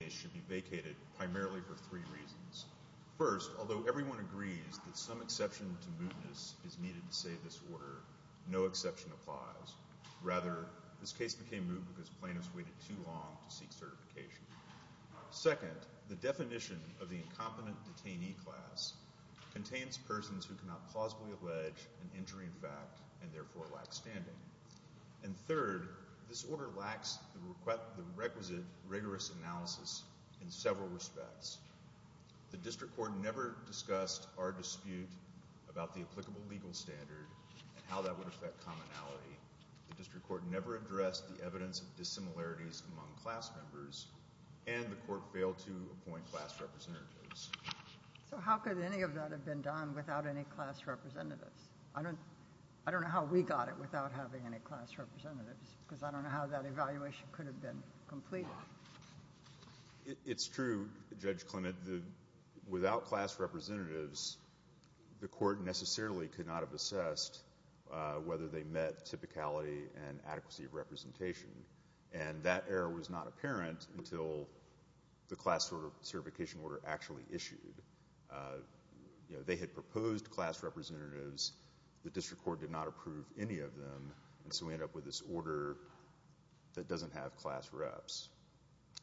This case should be vacated primarily for three reasons. First, although everyone agrees that some exception to mootness is needed to say this order, no exception applies. Rather, this case became moot because plaintiffs waited too long to seek certification. Second, the definition of the incompetent detainee class contains persons who cannot plausibly allege an injury in fact and therefore lack standing. And third, this order lacks the requisite rigorous analysis in several respects. The district court never discussed our dispute about the applicable legal standard and how that would affect commonality. The district court never addressed the evidence of dissimilarities among class members, and the court failed to appoint class representatives. So how could any of that have been done without any class representatives? I don't know how we got it without having any class representatives, because I don't know how that evaluation could have been completed. It's true, Judge Clement. Without class representatives, the court necessarily could not have assessed whether they met typicality and adequacy of representation. And that error was not apparent until the class certification order actually issued. You know, they had proposed class representatives. The district court did not approve any of them, and so we end up with this order that doesn't have class reps.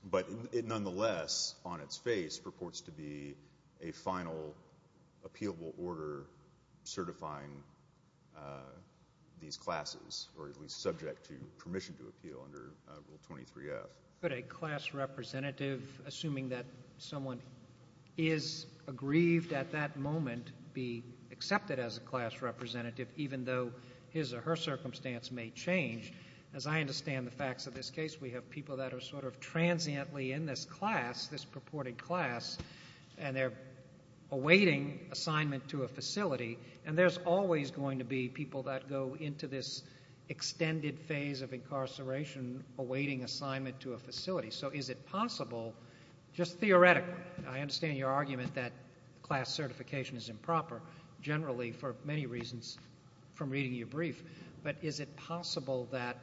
But it nonetheless, on its face, purports to be a final appealable order certifying these classes, or at least subject to permission to appeal under Rule 23F. Could a class representative, assuming that someone is aggrieved at that moment, be accepted as a class representative, even though his or her circumstance may change? As I understand the facts of this case, we have people that are sort of transiently in this class, this purported class, and they're awaiting assignment to a facility. And there's always going to be people that go into this extended phase of incarceration awaiting assignment to a facility. So is it possible, just theoretically, and I understand your argument that class certification is improper, generally for many reasons from reading your brief, but is it possible that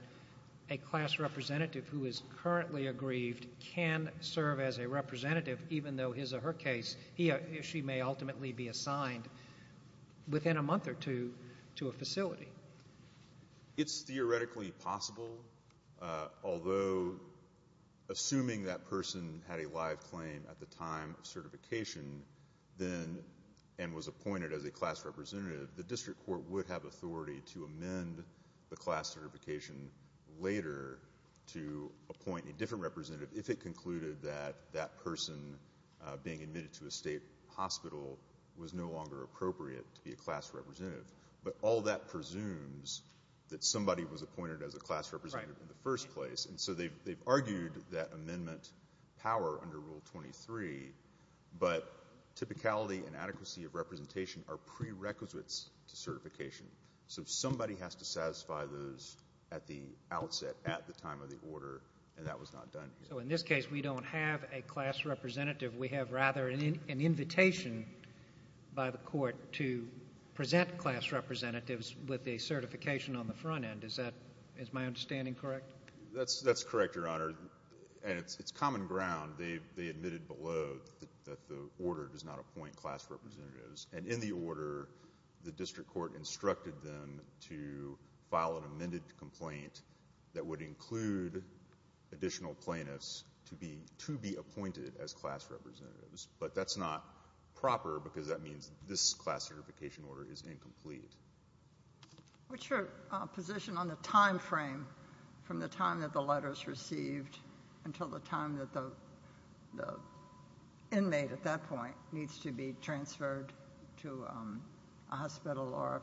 a class representative who is currently aggrieved can serve as a representative, even though his or her case, he or she may ultimately be assigned within a month or two to a facility? It's theoretically possible, although assuming that person had a live claim at the time of certification and was appointed as a class representative, the district court would have authority to amend the class certification later to appoint a different representative if it concluded that that person being admitted to a state hospital was no longer appropriate to be a class representative. But all that presumes that somebody was appointed as a class representative in the first place. And so they've argued that amendment power under Rule 23, but typicality and adequacy of representation are prerequisites to certification. So somebody has to satisfy those at the outset, at the time of the order, and that was not done. So in this case, we don't have a class representative. We have rather an invitation by the court to present class representatives with a certification on the front end. Is my understanding correct? That's correct, Your Honor. And it's common ground. They admitted below that the order does not appoint class representatives. And in the order, the district court instructed them to file an amended complaint that would include additional plaintiffs to be appointed as class representatives. But that's not proper because that means this class certification order is incomplete. What's your position on the time frame from the time that the letters received until the time that the inmate at that point needs to be transferred to a hospital or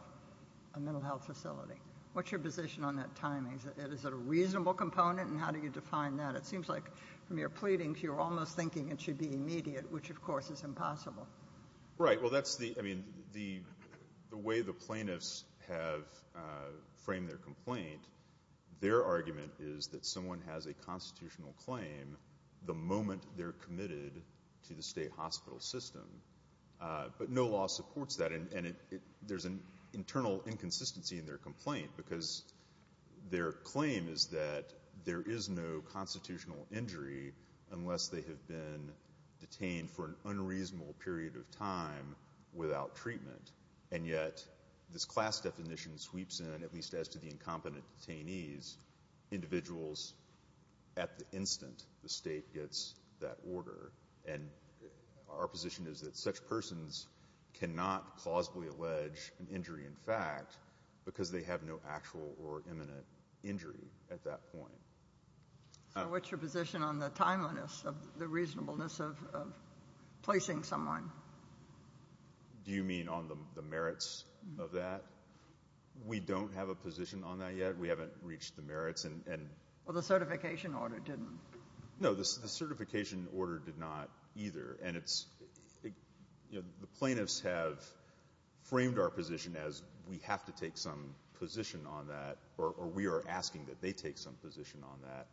a mental health facility? What's your position on that timing? Is it a reasonable component, and how do you define that? It seems like from your pleadings you're almost thinking it should be immediate, which, of course, is impossible. Right. Well, that's the way the plaintiffs have framed their complaint. Their argument is that someone has a constitutional claim the moment they're committed to the state hospital system. But no law supports that. And there's an internal inconsistency in their complaint because their claim is that there is no constitutional injury unless they have been detained for an unreasonable period of time without treatment. And yet this class definition sweeps in, at least as to the incompetent detainees, And our position is that such persons cannot plausibly allege an injury in fact because they have no actual or imminent injury at that point. So what's your position on the timeliness of the reasonableness of placing someone? Do you mean on the merits of that? We don't have a position on that yet. We haven't reached the merits. Well, the certification order didn't. No, the certification order did not either. And it's the plaintiffs have framed our position as we have to take some position on that or we are asking that they take some position on that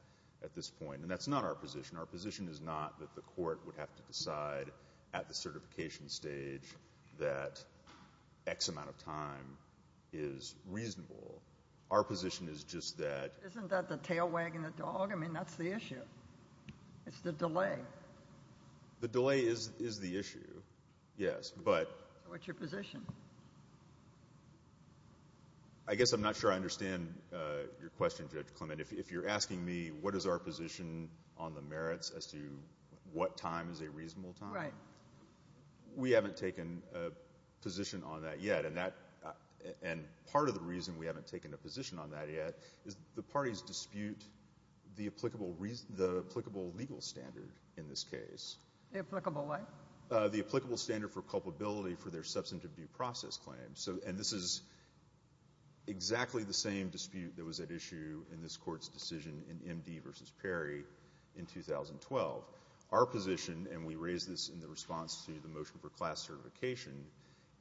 at this point. And that's not our position. Our position is not that the court would have to decide at the certification stage that X amount of time is reasonable. Our position is just that — Isn't that the tail wagging the dog? I mean, that's the issue. It's the delay. The delay is the issue, yes. So what's your position? I guess I'm not sure I understand your question, Judge Clement. If you're asking me what is our position on the merits as to what time is a reasonable time, we haven't taken a position on that yet. And part of the reason we haven't taken a position on that yet is the parties dispute the applicable legal standard in this case. The applicable what? The applicable standard for culpability for their substantive due process claims. And this is exactly the same dispute that was at issue in this Court's decision in MD v. Perry in 2012. Our position, and we raised this in the response to the motion for class certification,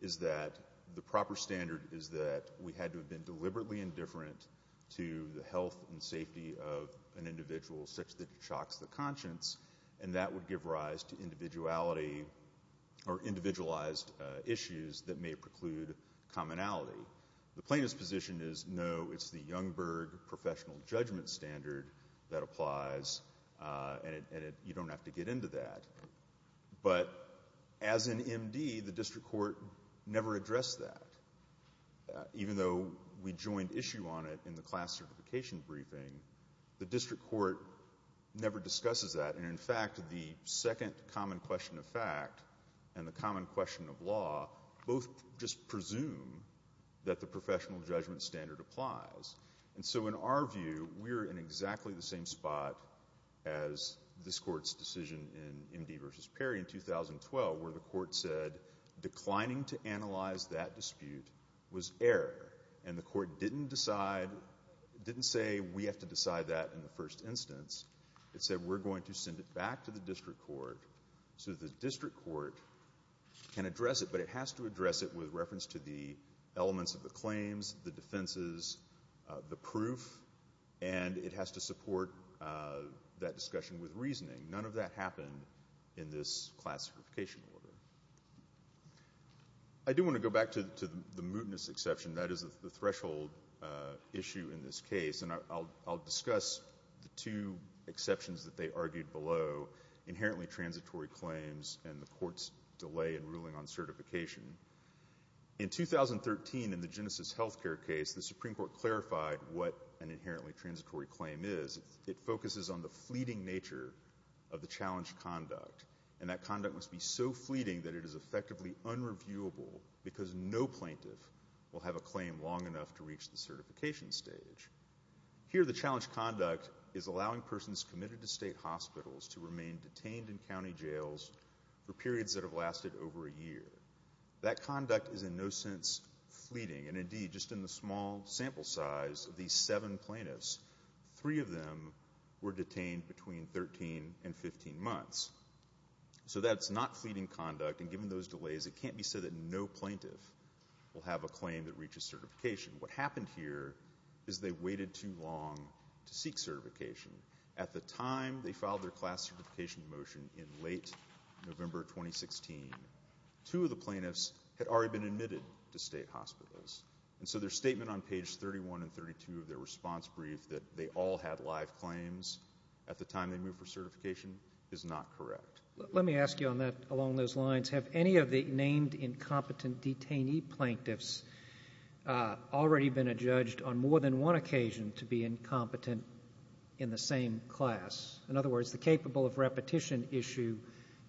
is that the proper standard is that we had to have been deliberately indifferent to the health and safety of an individual such that it shocks the conscience, and that would give rise to individuality or individualized issues that may preclude commonality. The plaintiff's position is no, it's the Youngberg professional judgment standard that applies, and you don't have to get into that. But as in MD, the district court never addressed that. Even though we joined issue on it in the class certification briefing, the district court never discusses that. And, in fact, the second common question of fact and the common question of law both just presume that the professional judgment standard applies. And so in our view, we're in exactly the same spot as this Court's decision in MD v. Perry in 2012 where the Court said declining to analyze that dispute was error, and the Court didn't decide, didn't say we have to decide that in the first instance. It said we're going to send it back to the district court so the district court can address it, but it has to address it with reference to the elements of the claims, the defenses, the proof, and it has to support that discussion with reasoning. None of that happened in this class certification order. I do want to go back to the mootness exception. That is the threshold issue in this case, and I'll discuss the two exceptions that they argued below, inherently transitory claims and the Court's delay in ruling on certification. In 2013, in the Genesis Healthcare case, the Supreme Court clarified what an inherently transitory claim is. It focuses on the fleeting nature of the challenged conduct, and that conduct must be so fleeting that it is effectively unreviewable because no plaintiff will have a claim long enough to reach the certification stage. Here the challenged conduct is allowing persons committed to state hospitals to remain detained in county jails for periods that have lasted over a year. That conduct is in no sense fleeting, and indeed, just in the small sample size of these seven plaintiffs, three of them were detained between 13 and 15 months. So that's not fleeting conduct, and given those delays, it can't be said that no plaintiff will have a claim that reaches certification. What happened here is they waited too long to seek certification. At the time they filed their class certification motion in late November 2016, two of the plaintiffs had already been admitted to state hospitals, and so their statement on page 31 and 32 of their response brief that they all had live claims at the time they moved for certification is not correct. Let me ask you on that along those lines. Have any of the named incompetent detainee plaintiffs already been adjudged on more than one occasion to be incompetent in the same class? In other words, the capable of repetition issue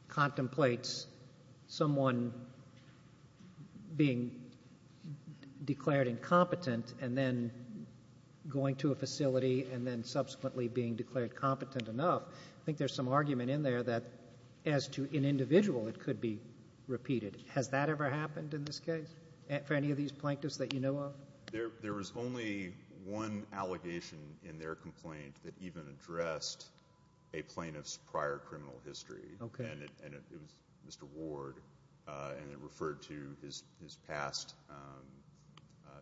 contemplates someone being declared incompetent and then going to a facility and then subsequently being declared competent enough. I think there's some argument in there that as to an individual, it could be repeated. Has that ever happened in this case for any of these plaintiffs that you know of? There was only one allegation in their complaint that even addressed a plaintiff's prior criminal history, and it was Mr. Ward, and it referred to his past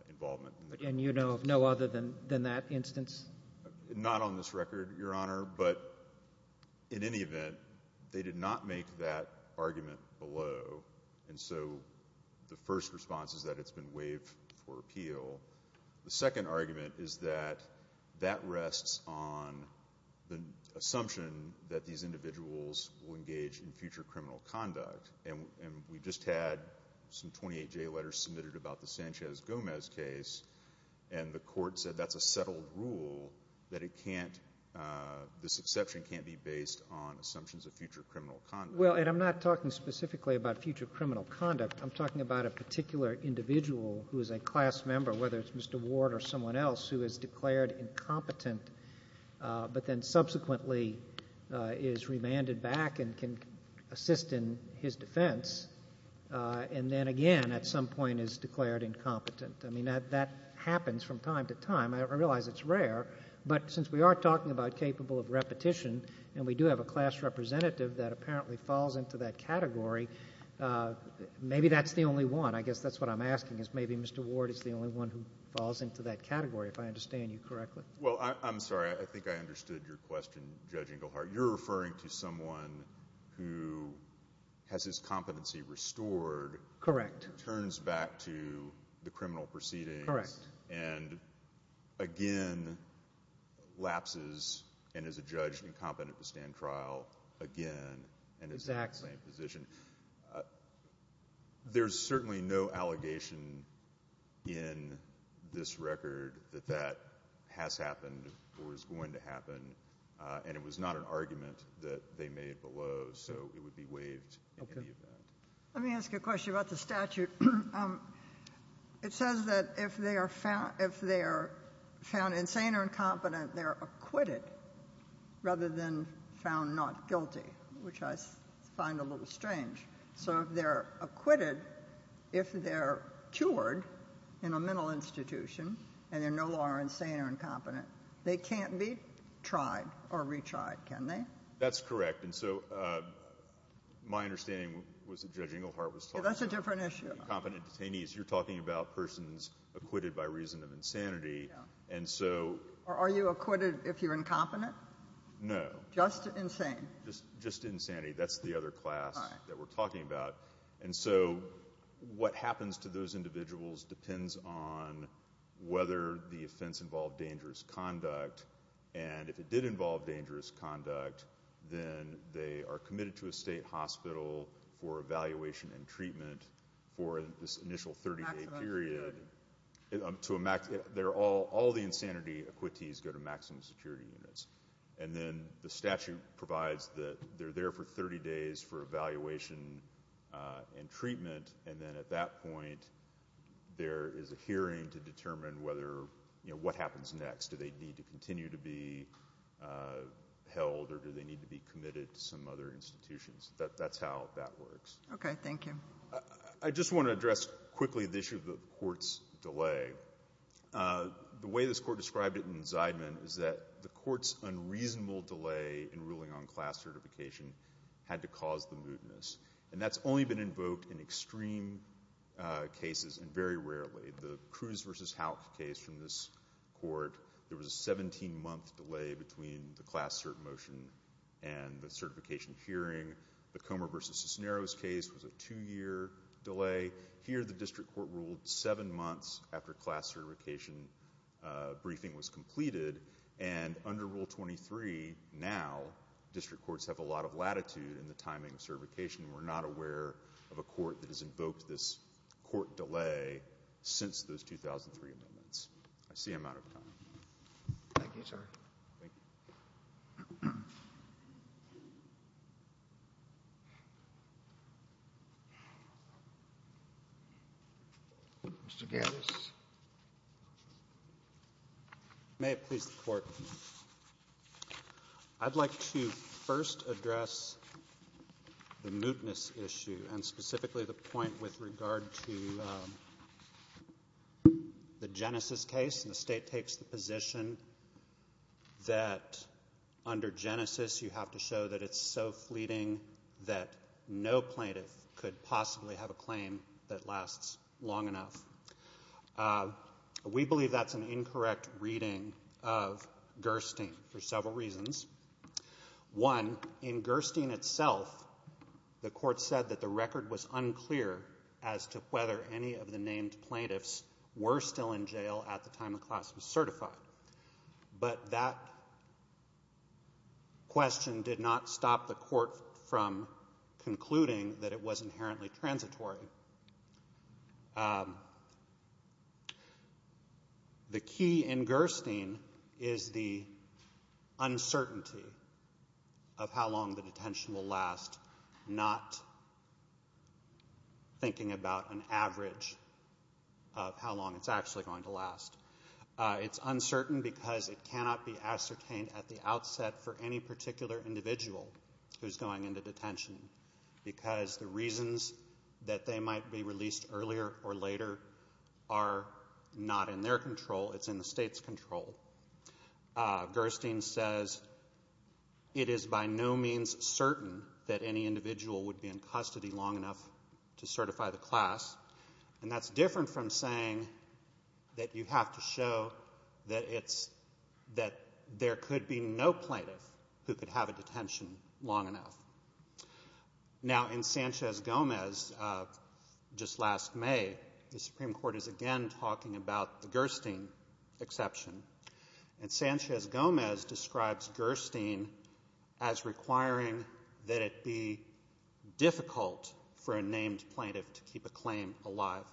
involvement. And you know of no other than that instance? Not on this record, Your Honor, but in any event, they did not make that argument below, and so the first response is that it's been waived for appeal. The second argument is that that rests on the assumption that these individuals will engage in future criminal conduct, and we just had some 28-J letters submitted about the Sanchez-Gomez case, and the court said that's a settled rule, that this exception can't be based on assumptions of future criminal conduct. Well, Ed, I'm not talking specifically about future criminal conduct. I'm talking about a particular individual who is a class member, whether it's Mr. Ward or someone else, who is declared incompetent but then subsequently is remanded back and can assist in his defense and then again at some point is declared incompetent. I mean, that happens from time to time. I realize it's rare, but since we are talking about capable of repetition and we do have a class representative that apparently falls into that category, maybe that's the only one. I guess that's what I'm asking is maybe Mr. Ward is the only one who falls into that category, if I understand you correctly. Well, I'm sorry. I think I understood your question, Judge Inglehart. You're referring to someone who has his competency restored. Correct. Turns back to the criminal proceedings. Correct. And again lapses and is adjudged incompetent to stand trial again and is in the same position. Exactly. There's certainly no allegation in this record that that has happened or is going to happen, and it was not an argument that they made below, so it would be waived in any event. Let me ask you a question about the statute. It says that if they are found insane or incompetent, they're acquitted rather than found not guilty, which I find a little strange. So if they're acquitted, if they're cured in a mental institution and they no longer are insane or incompetent, they can't be tried or retried, can they? That's correct. And so my understanding was that Judge Inglehart was talking about incompetent detainees. That's a different issue. You're talking about persons acquitted by reason of insanity. Yeah. Are you acquitted if you're incompetent? No. Just insane? Just insanity. That's the other class that we're talking about. And so what happens to those individuals depends on whether the offense involved dangerous conduct, and if it did involve dangerous conduct, then they are committed to a state hospital for evaluation and treatment for this initial 30-day period. All the insanity acquittees go to maximum security units. And then the statute provides that they're there for 30 days for evaluation and treatment, and then at that point there is a hearing to determine what happens next. Do they need to continue to be held or do they need to be committed to some other institutions? That's how that works. Okay. Thank you. I just want to address quickly the issue of the court's delay. The way this court described it in Zeidman is that the court's unreasonable delay in ruling on class certification had to cause the mootness, and that's only been invoked in extreme cases and very rarely. The Cruz v. Houck case from this court, there was a 17-month delay between the class cert motion and the certification hearing. The Comer v. Cisneros case was a two-year delay. Here the district court ruled seven months after class certification briefing was completed, and under Rule 23 now district courts have a lot of latitude in the timing of certification. We're not aware of a court that has invoked this court delay since those 2003 amendments. I see I'm out of time. Thank you, sir. Thank you. Mr. Gates. May it please the Court. I'd like to first address the mootness issue and specifically the point with regard to the Genesis case, and the State takes the position that under Genesis you have to show that it's so fleeting that no plaintiff could possibly have a claim that lasts long enough. We believe that's an incorrect reading of Gerstein for several reasons. One, in Gerstein itself the court said that the record was unclear as to whether any of the named plaintiffs were still in jail at the time the class was certified, but that question did not stop the court from concluding that it was inherently transitory. The key in Gerstein is the uncertainty of how long the detention will last, not thinking about an average of how long it's actually going to last. It's uncertain because it cannot be ascertained at the outset for any particular individual who's going into detention because the reasons that they might be released earlier or later are not in their control, it's in the State's control. Gerstein says it is by no means certain that any individual would be in custody long enough to certify the class, and that's different from saying that you have to show that there could be no plaintiff who could have a detention long enough. Now, in Sanchez-Gomez, just last May, the Supreme Court is again talking about the Gerstein exception, and Sanchez-Gomez describes Gerstein as requiring that it be difficult for a named plaintiff to keep a claim alive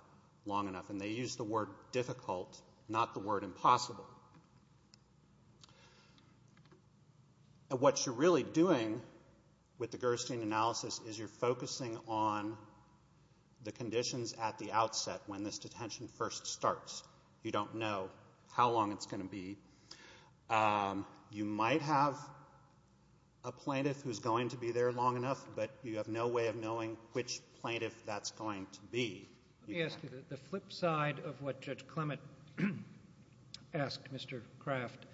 long enough, and they use the word difficult, not the word impossible. What you're really doing with the Gerstein analysis is you're focusing on the conditions at the outset when this detention first starts. You don't know how long it's going to be. You might have a plaintiff who's going to be there long enough, but you have no way of knowing which plaintiff that's going to be. Let me ask you the flip side of what Judge Clement asked Mr. Kraft.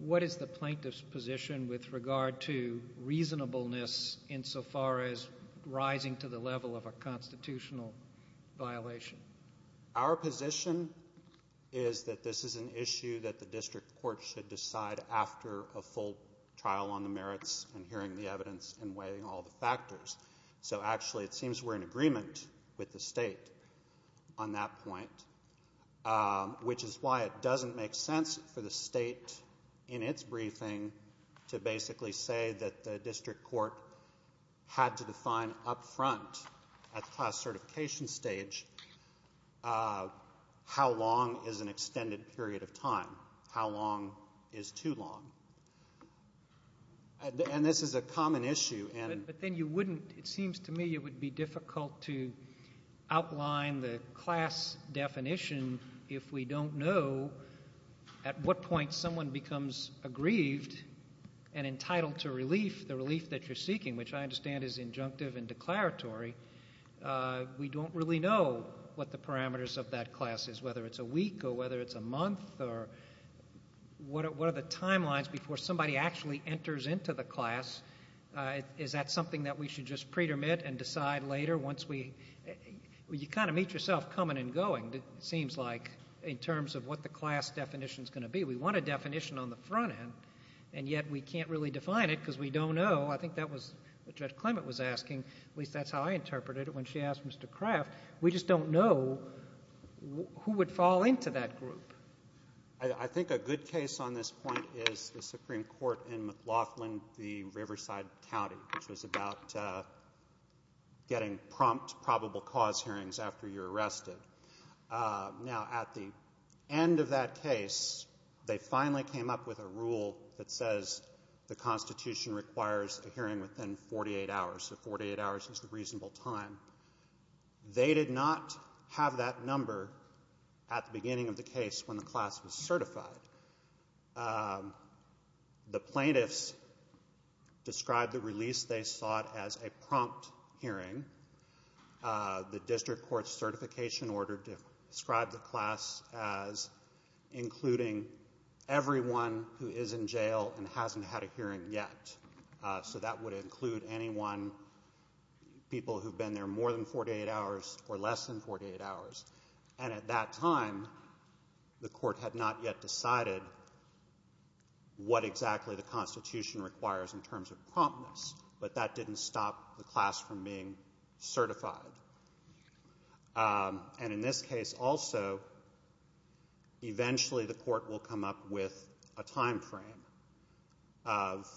What is the plaintiff's position with regard to reasonableness insofar as rising to the level of a constitutional violation? Our position is that this is an issue that the district court should decide after a full trial on the merits and hearing the evidence and weighing all the factors, so actually it seems we're in agreement with the state on that point, which is why it doesn't make sense for the state in its briefing to basically say that the district court had to define up front at the classification stage how long is an extended period of time, how long is too long. And this is a common issue. But then you wouldn't, it seems to me it would be difficult to outline the class definition if we don't know at what point someone becomes aggrieved and entitled to relief, the relief that you're seeking, which I understand is injunctive and declaratory. We don't really know what the parameters of that class is, whether it's a week or whether it's a month or what are the timelines before somebody actually enters into the class. Is that something that we should just pretermit and decide later once we, you kind of meet yourself coming and going, it seems like, in terms of what the class definition is going to be. We want a definition on the front end, and yet we can't really define it because we don't know. I think that was what Judge Clement was asking. At least that's how I interpreted it when she asked Mr. Craft. We just don't know who would fall into that group. I think a good case on this point is the Supreme Court in McLaughlin v. Riverside County, which was about getting prompt probable cause hearings after you're arrested. Now, at the end of that case, they finally came up with a rule that says the Constitution requires a hearing within 48 hours, so 48 hours is a reasonable time. They did not have that number at the beginning of the case when the class was certified. The plaintiffs described the release they sought as a prompt hearing. The district court's certification order described the class as including everyone who is in jail and hasn't had a hearing yet, so that would include anyone, people who've been there more than 48 hours or less than 48 hours. At that time, the court had not yet decided what exactly the Constitution requires in terms of promptness, but that didn't stop the class from being certified. In this case also, eventually the court will come up with a time frame of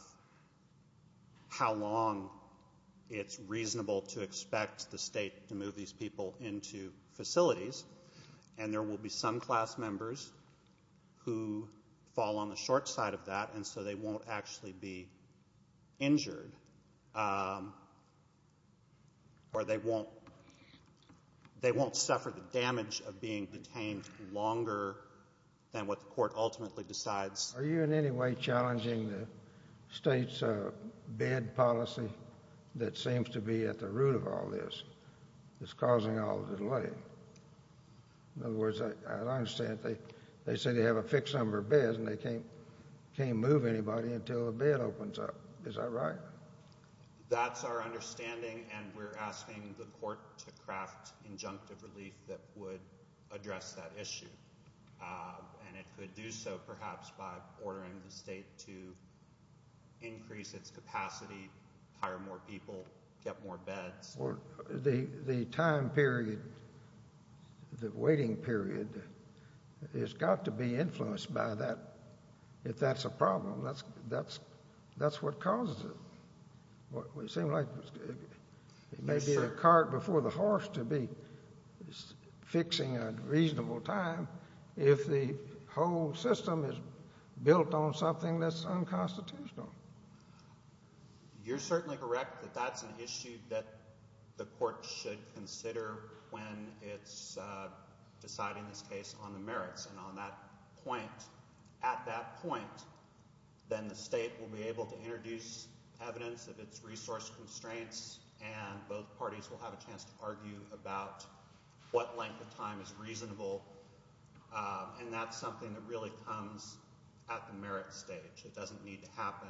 how long it's reasonable to expect the State to move these people into facilities, and there will be some class members who fall on the short side of that, and so they won't actually be injured, or they won't suffer the damage of being detained longer than what the court ultimately decides. Are you in any way challenging the State's bed policy that seems to be at the root of all this, that's causing all the delay? In other words, as I understand it, they say they have a fixed number of beds and they can't move anybody until the bed opens up. Is that right? That's our understanding, and we're asking the court to craft injunctive relief that would address that issue, and it could do so perhaps by ordering the State to increase its capacity, hire more people, get more beds. The time period, the waiting period has got to be influenced by that. If that's a problem, that's what causes it. It may be a cart before the horse to be fixing a reasonable time if the whole system is built on something that's unconstitutional. You're certainly correct that that's an issue that the court should consider when it's deciding this case on the merits, and at that point, then the State will be able to introduce evidence of its resource constraints, and both parties will have a chance to argue about what length of time is reasonable, and that's something that really comes at the merits stage. It doesn't need to happen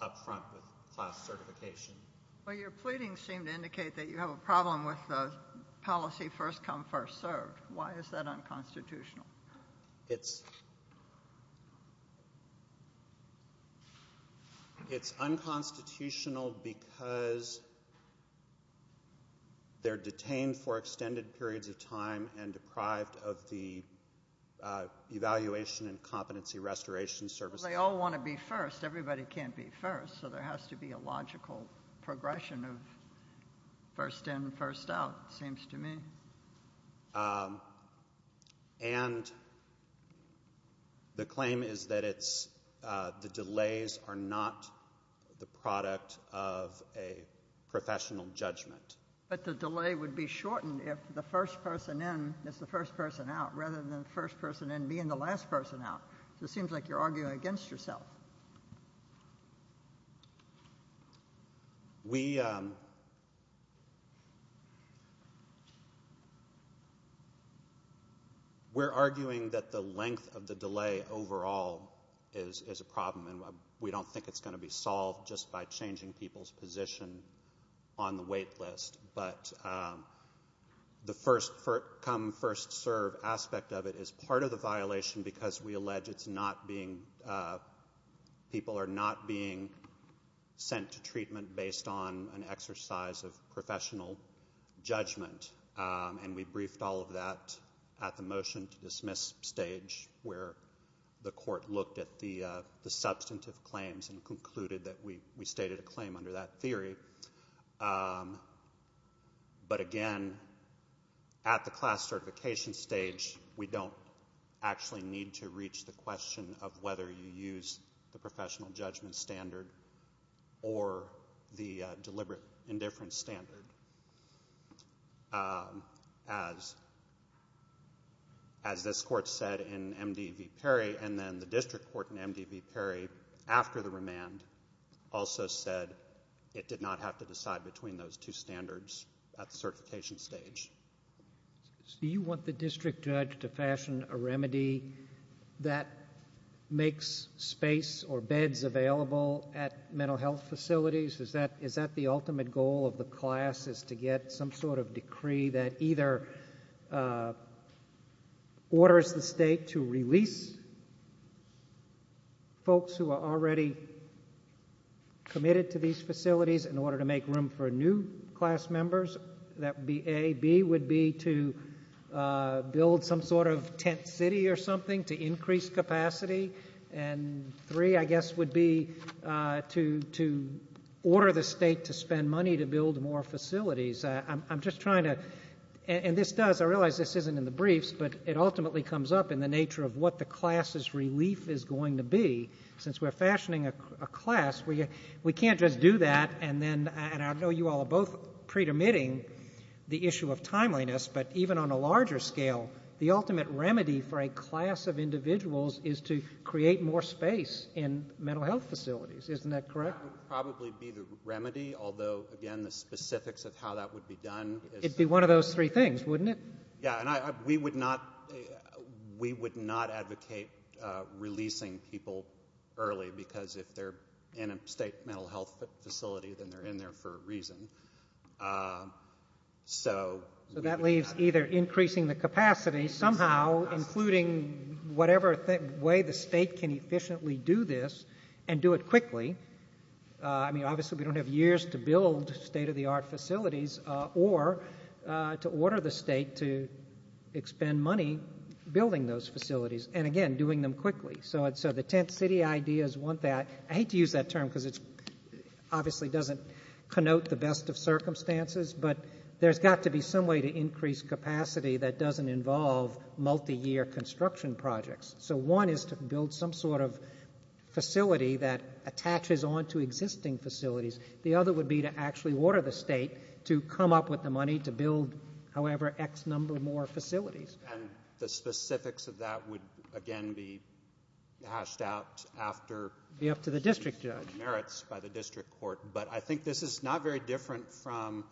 up front with class certification. Well, your pleadings seem to indicate that you have a problem with policy first come, first served. Why is that unconstitutional? It's unconstitutional because they're detained for extended periods of time and deprived of the evaluation and competency restoration services. Well, they all want to be first. Everybody can't be first, so there has to be a logical progression of first in, first out, it seems to me. And the claim is that it's the delays are not the product of a professional judgment. But the delay would be shortened if the first person in is the first person out rather than the first person in being the last person out. So it seems like you're arguing against yourself. We're arguing that the length of the delay overall is a problem, and we don't think it's going to be solved just by changing people's position on the wait list. But the first come, first serve aspect of it is part of the violation because we allege people are not being sent to treatment based on an exercise of professional judgment. And we briefed all of that at the motion to dismiss stage where the court looked at the substantive claims and concluded that we stated a claim under that theory. But, again, at the class certification stage, we don't actually need to reach the question of whether you use the professional judgment standard or the deliberate indifference standard. As this court said in M.D. v. Perry and then the district court in M.D. v. Perry after the remand also said it did not have to decide between those two standards at the certification stage. Do you want the district judge to fashion a remedy that makes space or beds available at mental health facilities? Is that the ultimate goal of the class is to get some sort of decree that either orders the state to release folks who are already committed to these facilities in order to make room for new class members? That would be A. B would be to build some sort of tent city or something to increase capacity. And three, I guess, would be to order the state to spend money to build more facilities. I'm just trying to, and this does, I realize this isn't in the briefs, but it ultimately comes up in the nature of what the class's relief is going to be. Since we're fashioning a class, we can't just do that and I know you all are both pre-permitting the issue of timeliness, but even on a larger scale, the ultimate remedy for a class of individuals is to create more space in mental health facilities. Isn't that correct? That would probably be the remedy, although, again, the specifics of how that would be done. It would be one of those three things, wouldn't it? Yeah, and we would not advocate releasing people early because if they're in a state mental health facility, then they're in there for a reason. So that leaves either increasing the capacity somehow, including whatever way the state can efficiently do this and do it quickly. I mean, obviously we don't have years to build state-of-the-art facilities or to order the state to expend money building those facilities and, again, doing them quickly. So the tent city ideas want that. I hate to use that term because it obviously doesn't connote the best of circumstances, but there's got to be some way to increase capacity that doesn't involve multi-year construction projects. So one is to build some sort of facility that attaches on to existing facilities. The other would be to actually order the state to come up with the money to build, however, X number more facilities. And the specifics of that would, again, be hashed out after? Be up to the district judge. Merits by the district court. But I think this is not very different from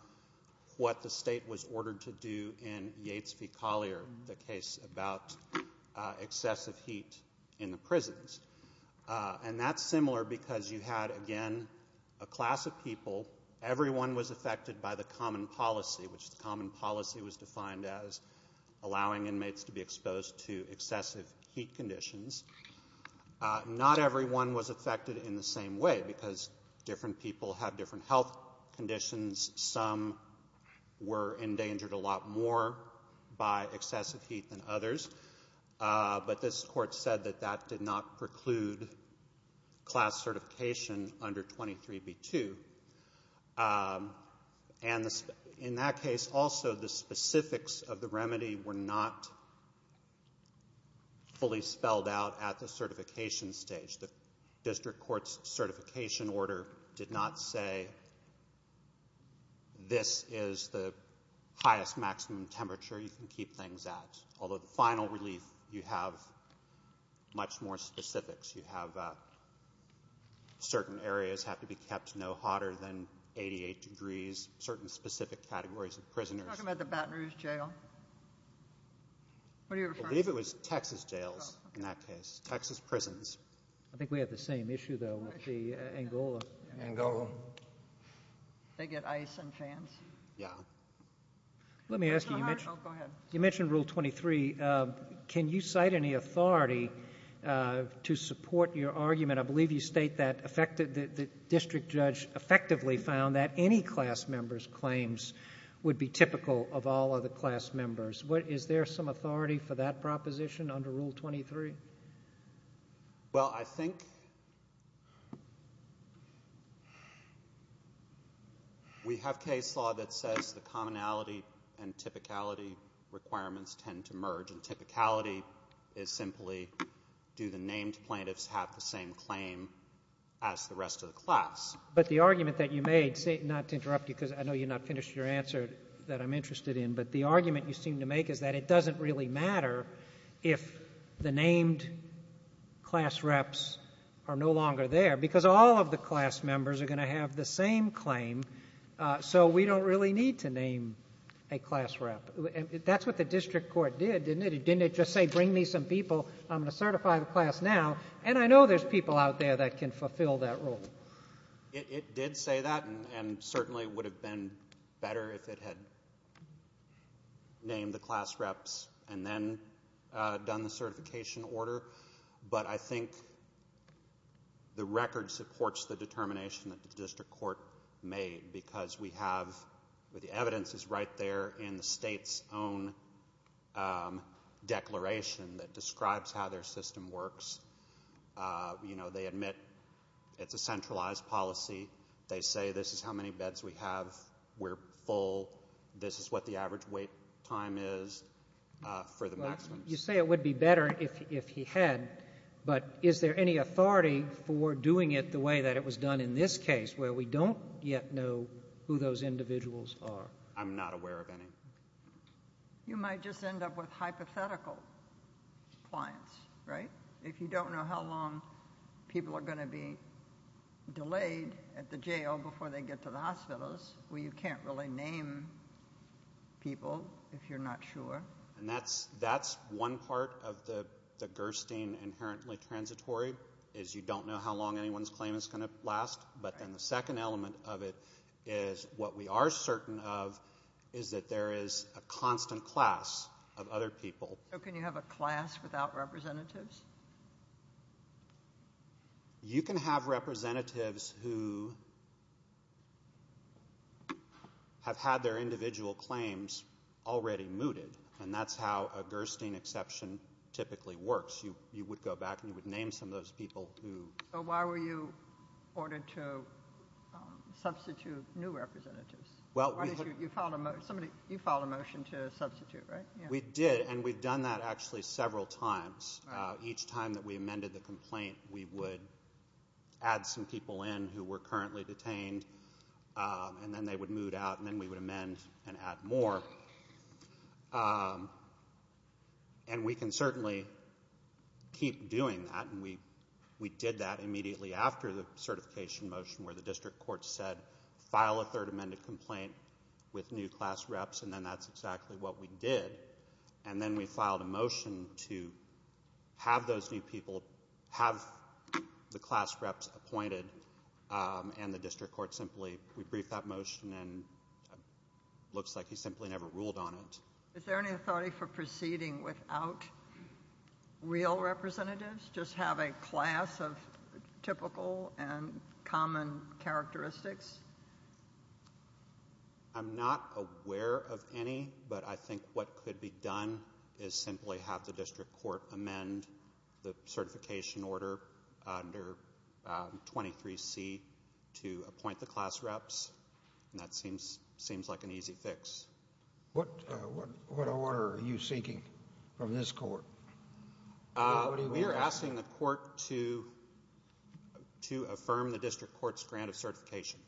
what the state was ordered to do in Yates v. Collier, the case about excessive heat in the prisons. And that's similar because you had, again, a class of people. Everyone was affected by the common policy, which the common policy was defined as allowing inmates to be exposed to excessive heat conditions. Not everyone was affected in the same way because different people had different health conditions. Some were endangered a lot more by excessive heat than others. But this court said that that did not preclude class certification under 23B2. And in that case, also, the specifics of the remedy were not fully spelled out at the certification stage. The district court's certification order did not say this is the highest maximum temperature you can keep things at, although the final relief you have much more specifics. You have certain areas have to be kept no hotter than 88 degrees, certain specific categories of prisoners. Are you talking about the Baton Rouge Jail? What are you referring to? I believe it was Texas jails in that case, Texas prisons. I think we had the same issue, though, with the Angola. Angola. They get ice and fans? Yeah. Let me ask you, you mentioned Rule 23. Can you cite any authority to support your argument? I believe you state that the district judge effectively found that any class member's claims would be typical of all other class members. Is there some authority for that proposition under Rule 23? Well, I think we have case law that says the commonality and typicality requirements tend to merge, and typicality is simply do the named plaintiffs have the same claim as the rest of the class. But the argument that you made, not to interrupt you because I know you're not finished with your answer that I'm interested in, but the argument you seem to make is that it doesn't really matter if the named class reps are no longer there because all of the class members are going to have the same claim, so we don't really need to name a class rep. That's what the district court did, didn't it? It didn't just say bring me some people, I'm going to certify the class now, and I know there's people out there that can fulfill that role. It did say that and certainly would have been better if it had named the class reps and then done the certification order, but I think the record supports the determination that the district court made because we have the evidence is right there in the state's own declaration that describes how their system works. You know, they admit it's a centralized policy. They say this is how many beds we have. We're full. This is what the average wait time is for the maximum. You say it would be better if he had, but is there any authority for doing it the way that it was done in this case where we don't yet know who those individuals are? I'm not aware of any. You might just end up with hypothetical clients, right, if you don't know how long people are going to be delayed at the jail before they get to the hospitals where you can't really name people if you're not sure. And that's one part of the Gerstein inherently transitory, is you don't know how long anyone's claim is going to last, but then the second element of it is what we are certain of is that there is a constant class of other people. So can you have a class without representatives? You can have representatives who have had their individual claims already mooted, and that's how a Gerstein exception typically works. You would go back and you would name some of those people who... So why were you ordered to substitute new representatives? You filed a motion to substitute, right? We did, and we've done that actually several times. Each time that we amended the complaint, we would add some people in who were currently detained, and then they would moot out, and then we would amend and add more. And we can certainly keep doing that, and we did that immediately after the certification motion where the district court said, file a third amended complaint with new class reps, and then that's exactly what we did. And then we filed a motion to have those new people have the class reps appointed, and the district court simply rebriefed that motion, and it looks like he simply never ruled on it. Is there any authority for proceeding without real representatives, just have a class of typical and common characteristics? I'm not aware of any, but I think what could be done is simply have the district court amend the certification order under 23C to appoint the class reps, and that seems like an easy fix. What order are you seeking from this court? We are asking the court to affirm the district court's grant of certification.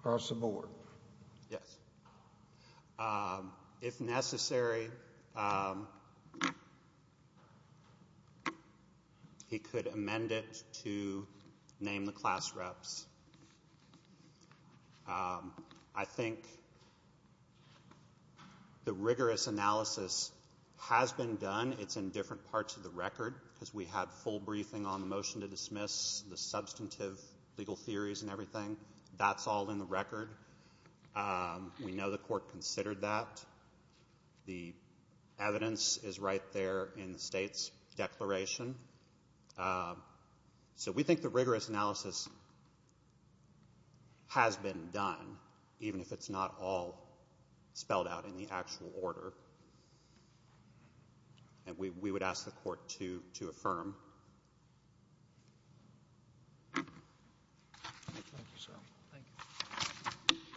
Across the board? Yes. If necessary, he could amend it to name the class reps. I think the rigorous analysis has been done. It's in different parts of the record because we had full briefing on the motion to dismiss, the substantive legal theories and everything. That's all in the record. We know the court considered that. The evidence is right there in the state's declaration. So we think the rigorous analysis has been done, even if it's not all spelled out in the actual order, and we would ask the court to affirm. Thank you, sir. Thank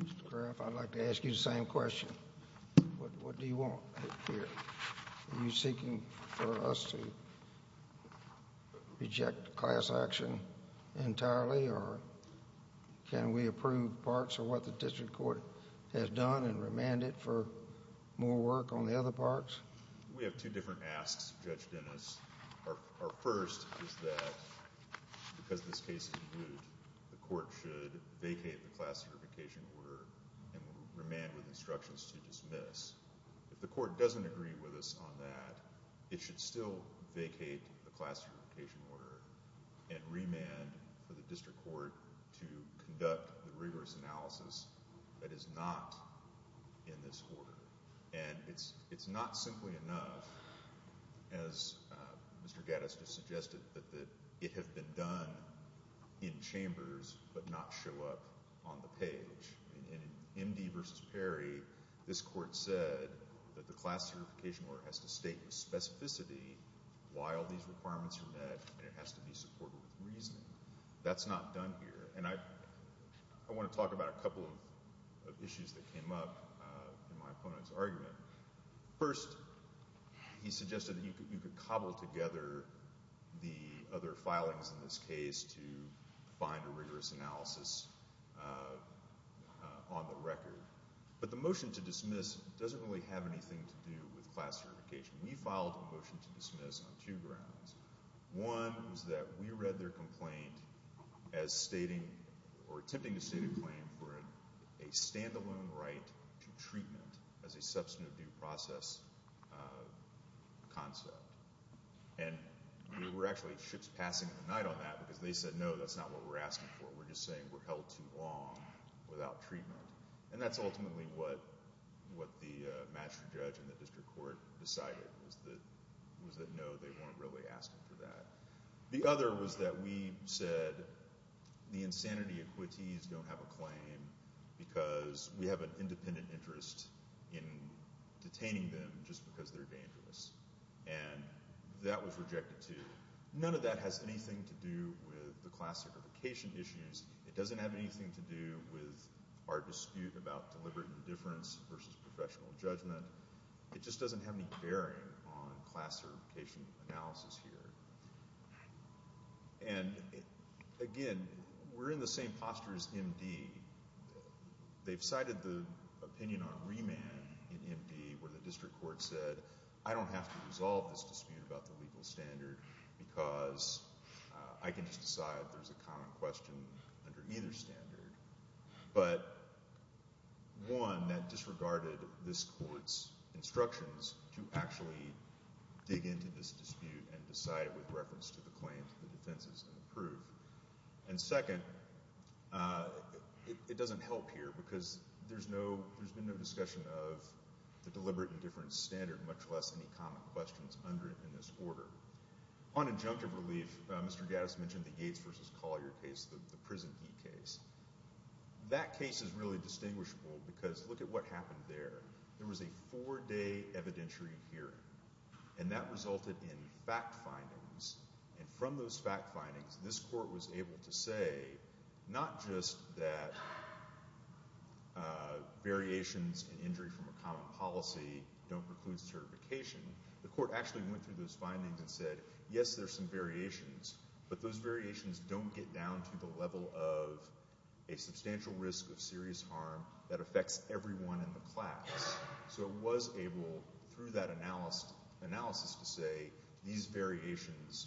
you. Mr. Graff, I'd like to ask you the same question. What do you want here? Are you seeking for us to reject class action entirely, or can we approve parts of what the district court has done and remand it for more work on the other parts? We have two different asks, Judge Dennis. Our first is that because this case is moot, the court should vacate the class certification order and remand with instructions to dismiss. If the court doesn't agree with us on that, it should still vacate the class certification order and remand for the district court to conduct the rigorous analysis that is not in this order. And it's not simply enough, as Mr. Gattas just suggested, that it have been done in chambers but not show up on the page. In MD v. Perry, this court said that the class certification order has to state specificity while these requirements are met, and it has to be supported with reasoning. That's not done here. And I want to talk about a couple of issues that came up in my opponent's argument. First, he suggested that you could cobble together the other filings in this case to find a rigorous analysis on the record. But the motion to dismiss doesn't really have anything to do with class certification. We filed a motion to dismiss on two grounds. One was that we read their complaint as stating or attempting to state a claim for a standalone right to treatment as a substantive due process concept. And we were actually just passing the night on that because they said, no, that's not what we're asking for. We're just saying we're held too long without treatment. And that's ultimately what the master judge in the district court decided, was that no, they weren't really asking for that. The other was that we said the insanity equities don't have a claim because we have an independent interest in detaining them just because they're dangerous. And that was rejected, too. None of that has anything to do with the class certification issues. It doesn't have anything to do with our dispute about deliberate indifference versus professional judgment. It just doesn't have any bearing on class certification analysis here. And, again, we're in the same posture as MD. They've cited the opinion on remand in MD where the district court said, I don't have to resolve this dispute about the legal standard because I can just decide there's a common question under either standard. But, one, that disregarded this court's instructions to actually dig into this dispute and decide it with reference to the claims the defense is going to prove. And, second, it doesn't help here because there's been no discussion of the deliberate indifference standard, much less any common questions in this order. On injunctive relief, Mr. Gaddis mentioned the Yates v. Collier case, the prison key case. That case is really distinguishable because look at what happened there. There was a four-day evidentiary hearing, and that resulted in fact findings. And from those fact findings, this court was able to say not just that variations in injury from a common policy don't preclude certification. The court actually went through those findings and said, yes, there's some variations, but those variations don't get down to the level of a substantial risk of serious harm that affects everyone in the class. So it was able, through that analysis, to say these variations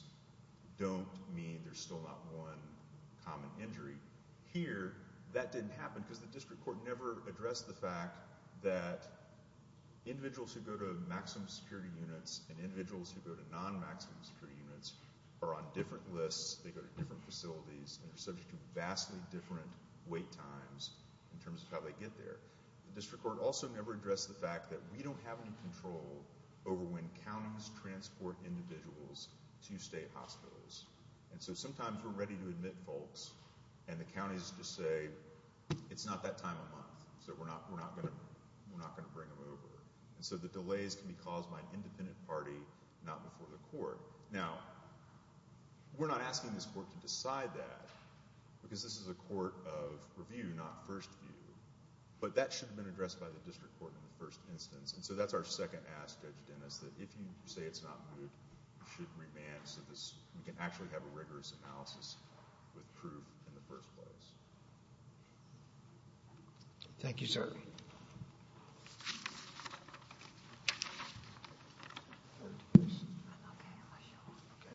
don't mean there's still not one common injury. Here, that didn't happen because the district court never addressed the fact that individuals who go to maximum security units and individuals who go to non-maximum security units are on different lists, they go to different facilities, and are subject to vastly different wait times in terms of how they get there. The district court also never addressed the fact that we don't have any control over when counties transport individuals to state hospitals. And so sometimes we're ready to admit folks, and the counties just say, it's not that time of month, so we're not going to bring them over. And so the delays can be caused by an independent party, not before the court. Now, we're not asking this court to decide that because this is a court of review, not first view. But that should have been addressed by the district court in the first instance. And so that's our second ask, Judge Dennis, that if you say it's not moot, you should remand so we can actually have a rigorous analysis with proof in the first place. Thank you, sir.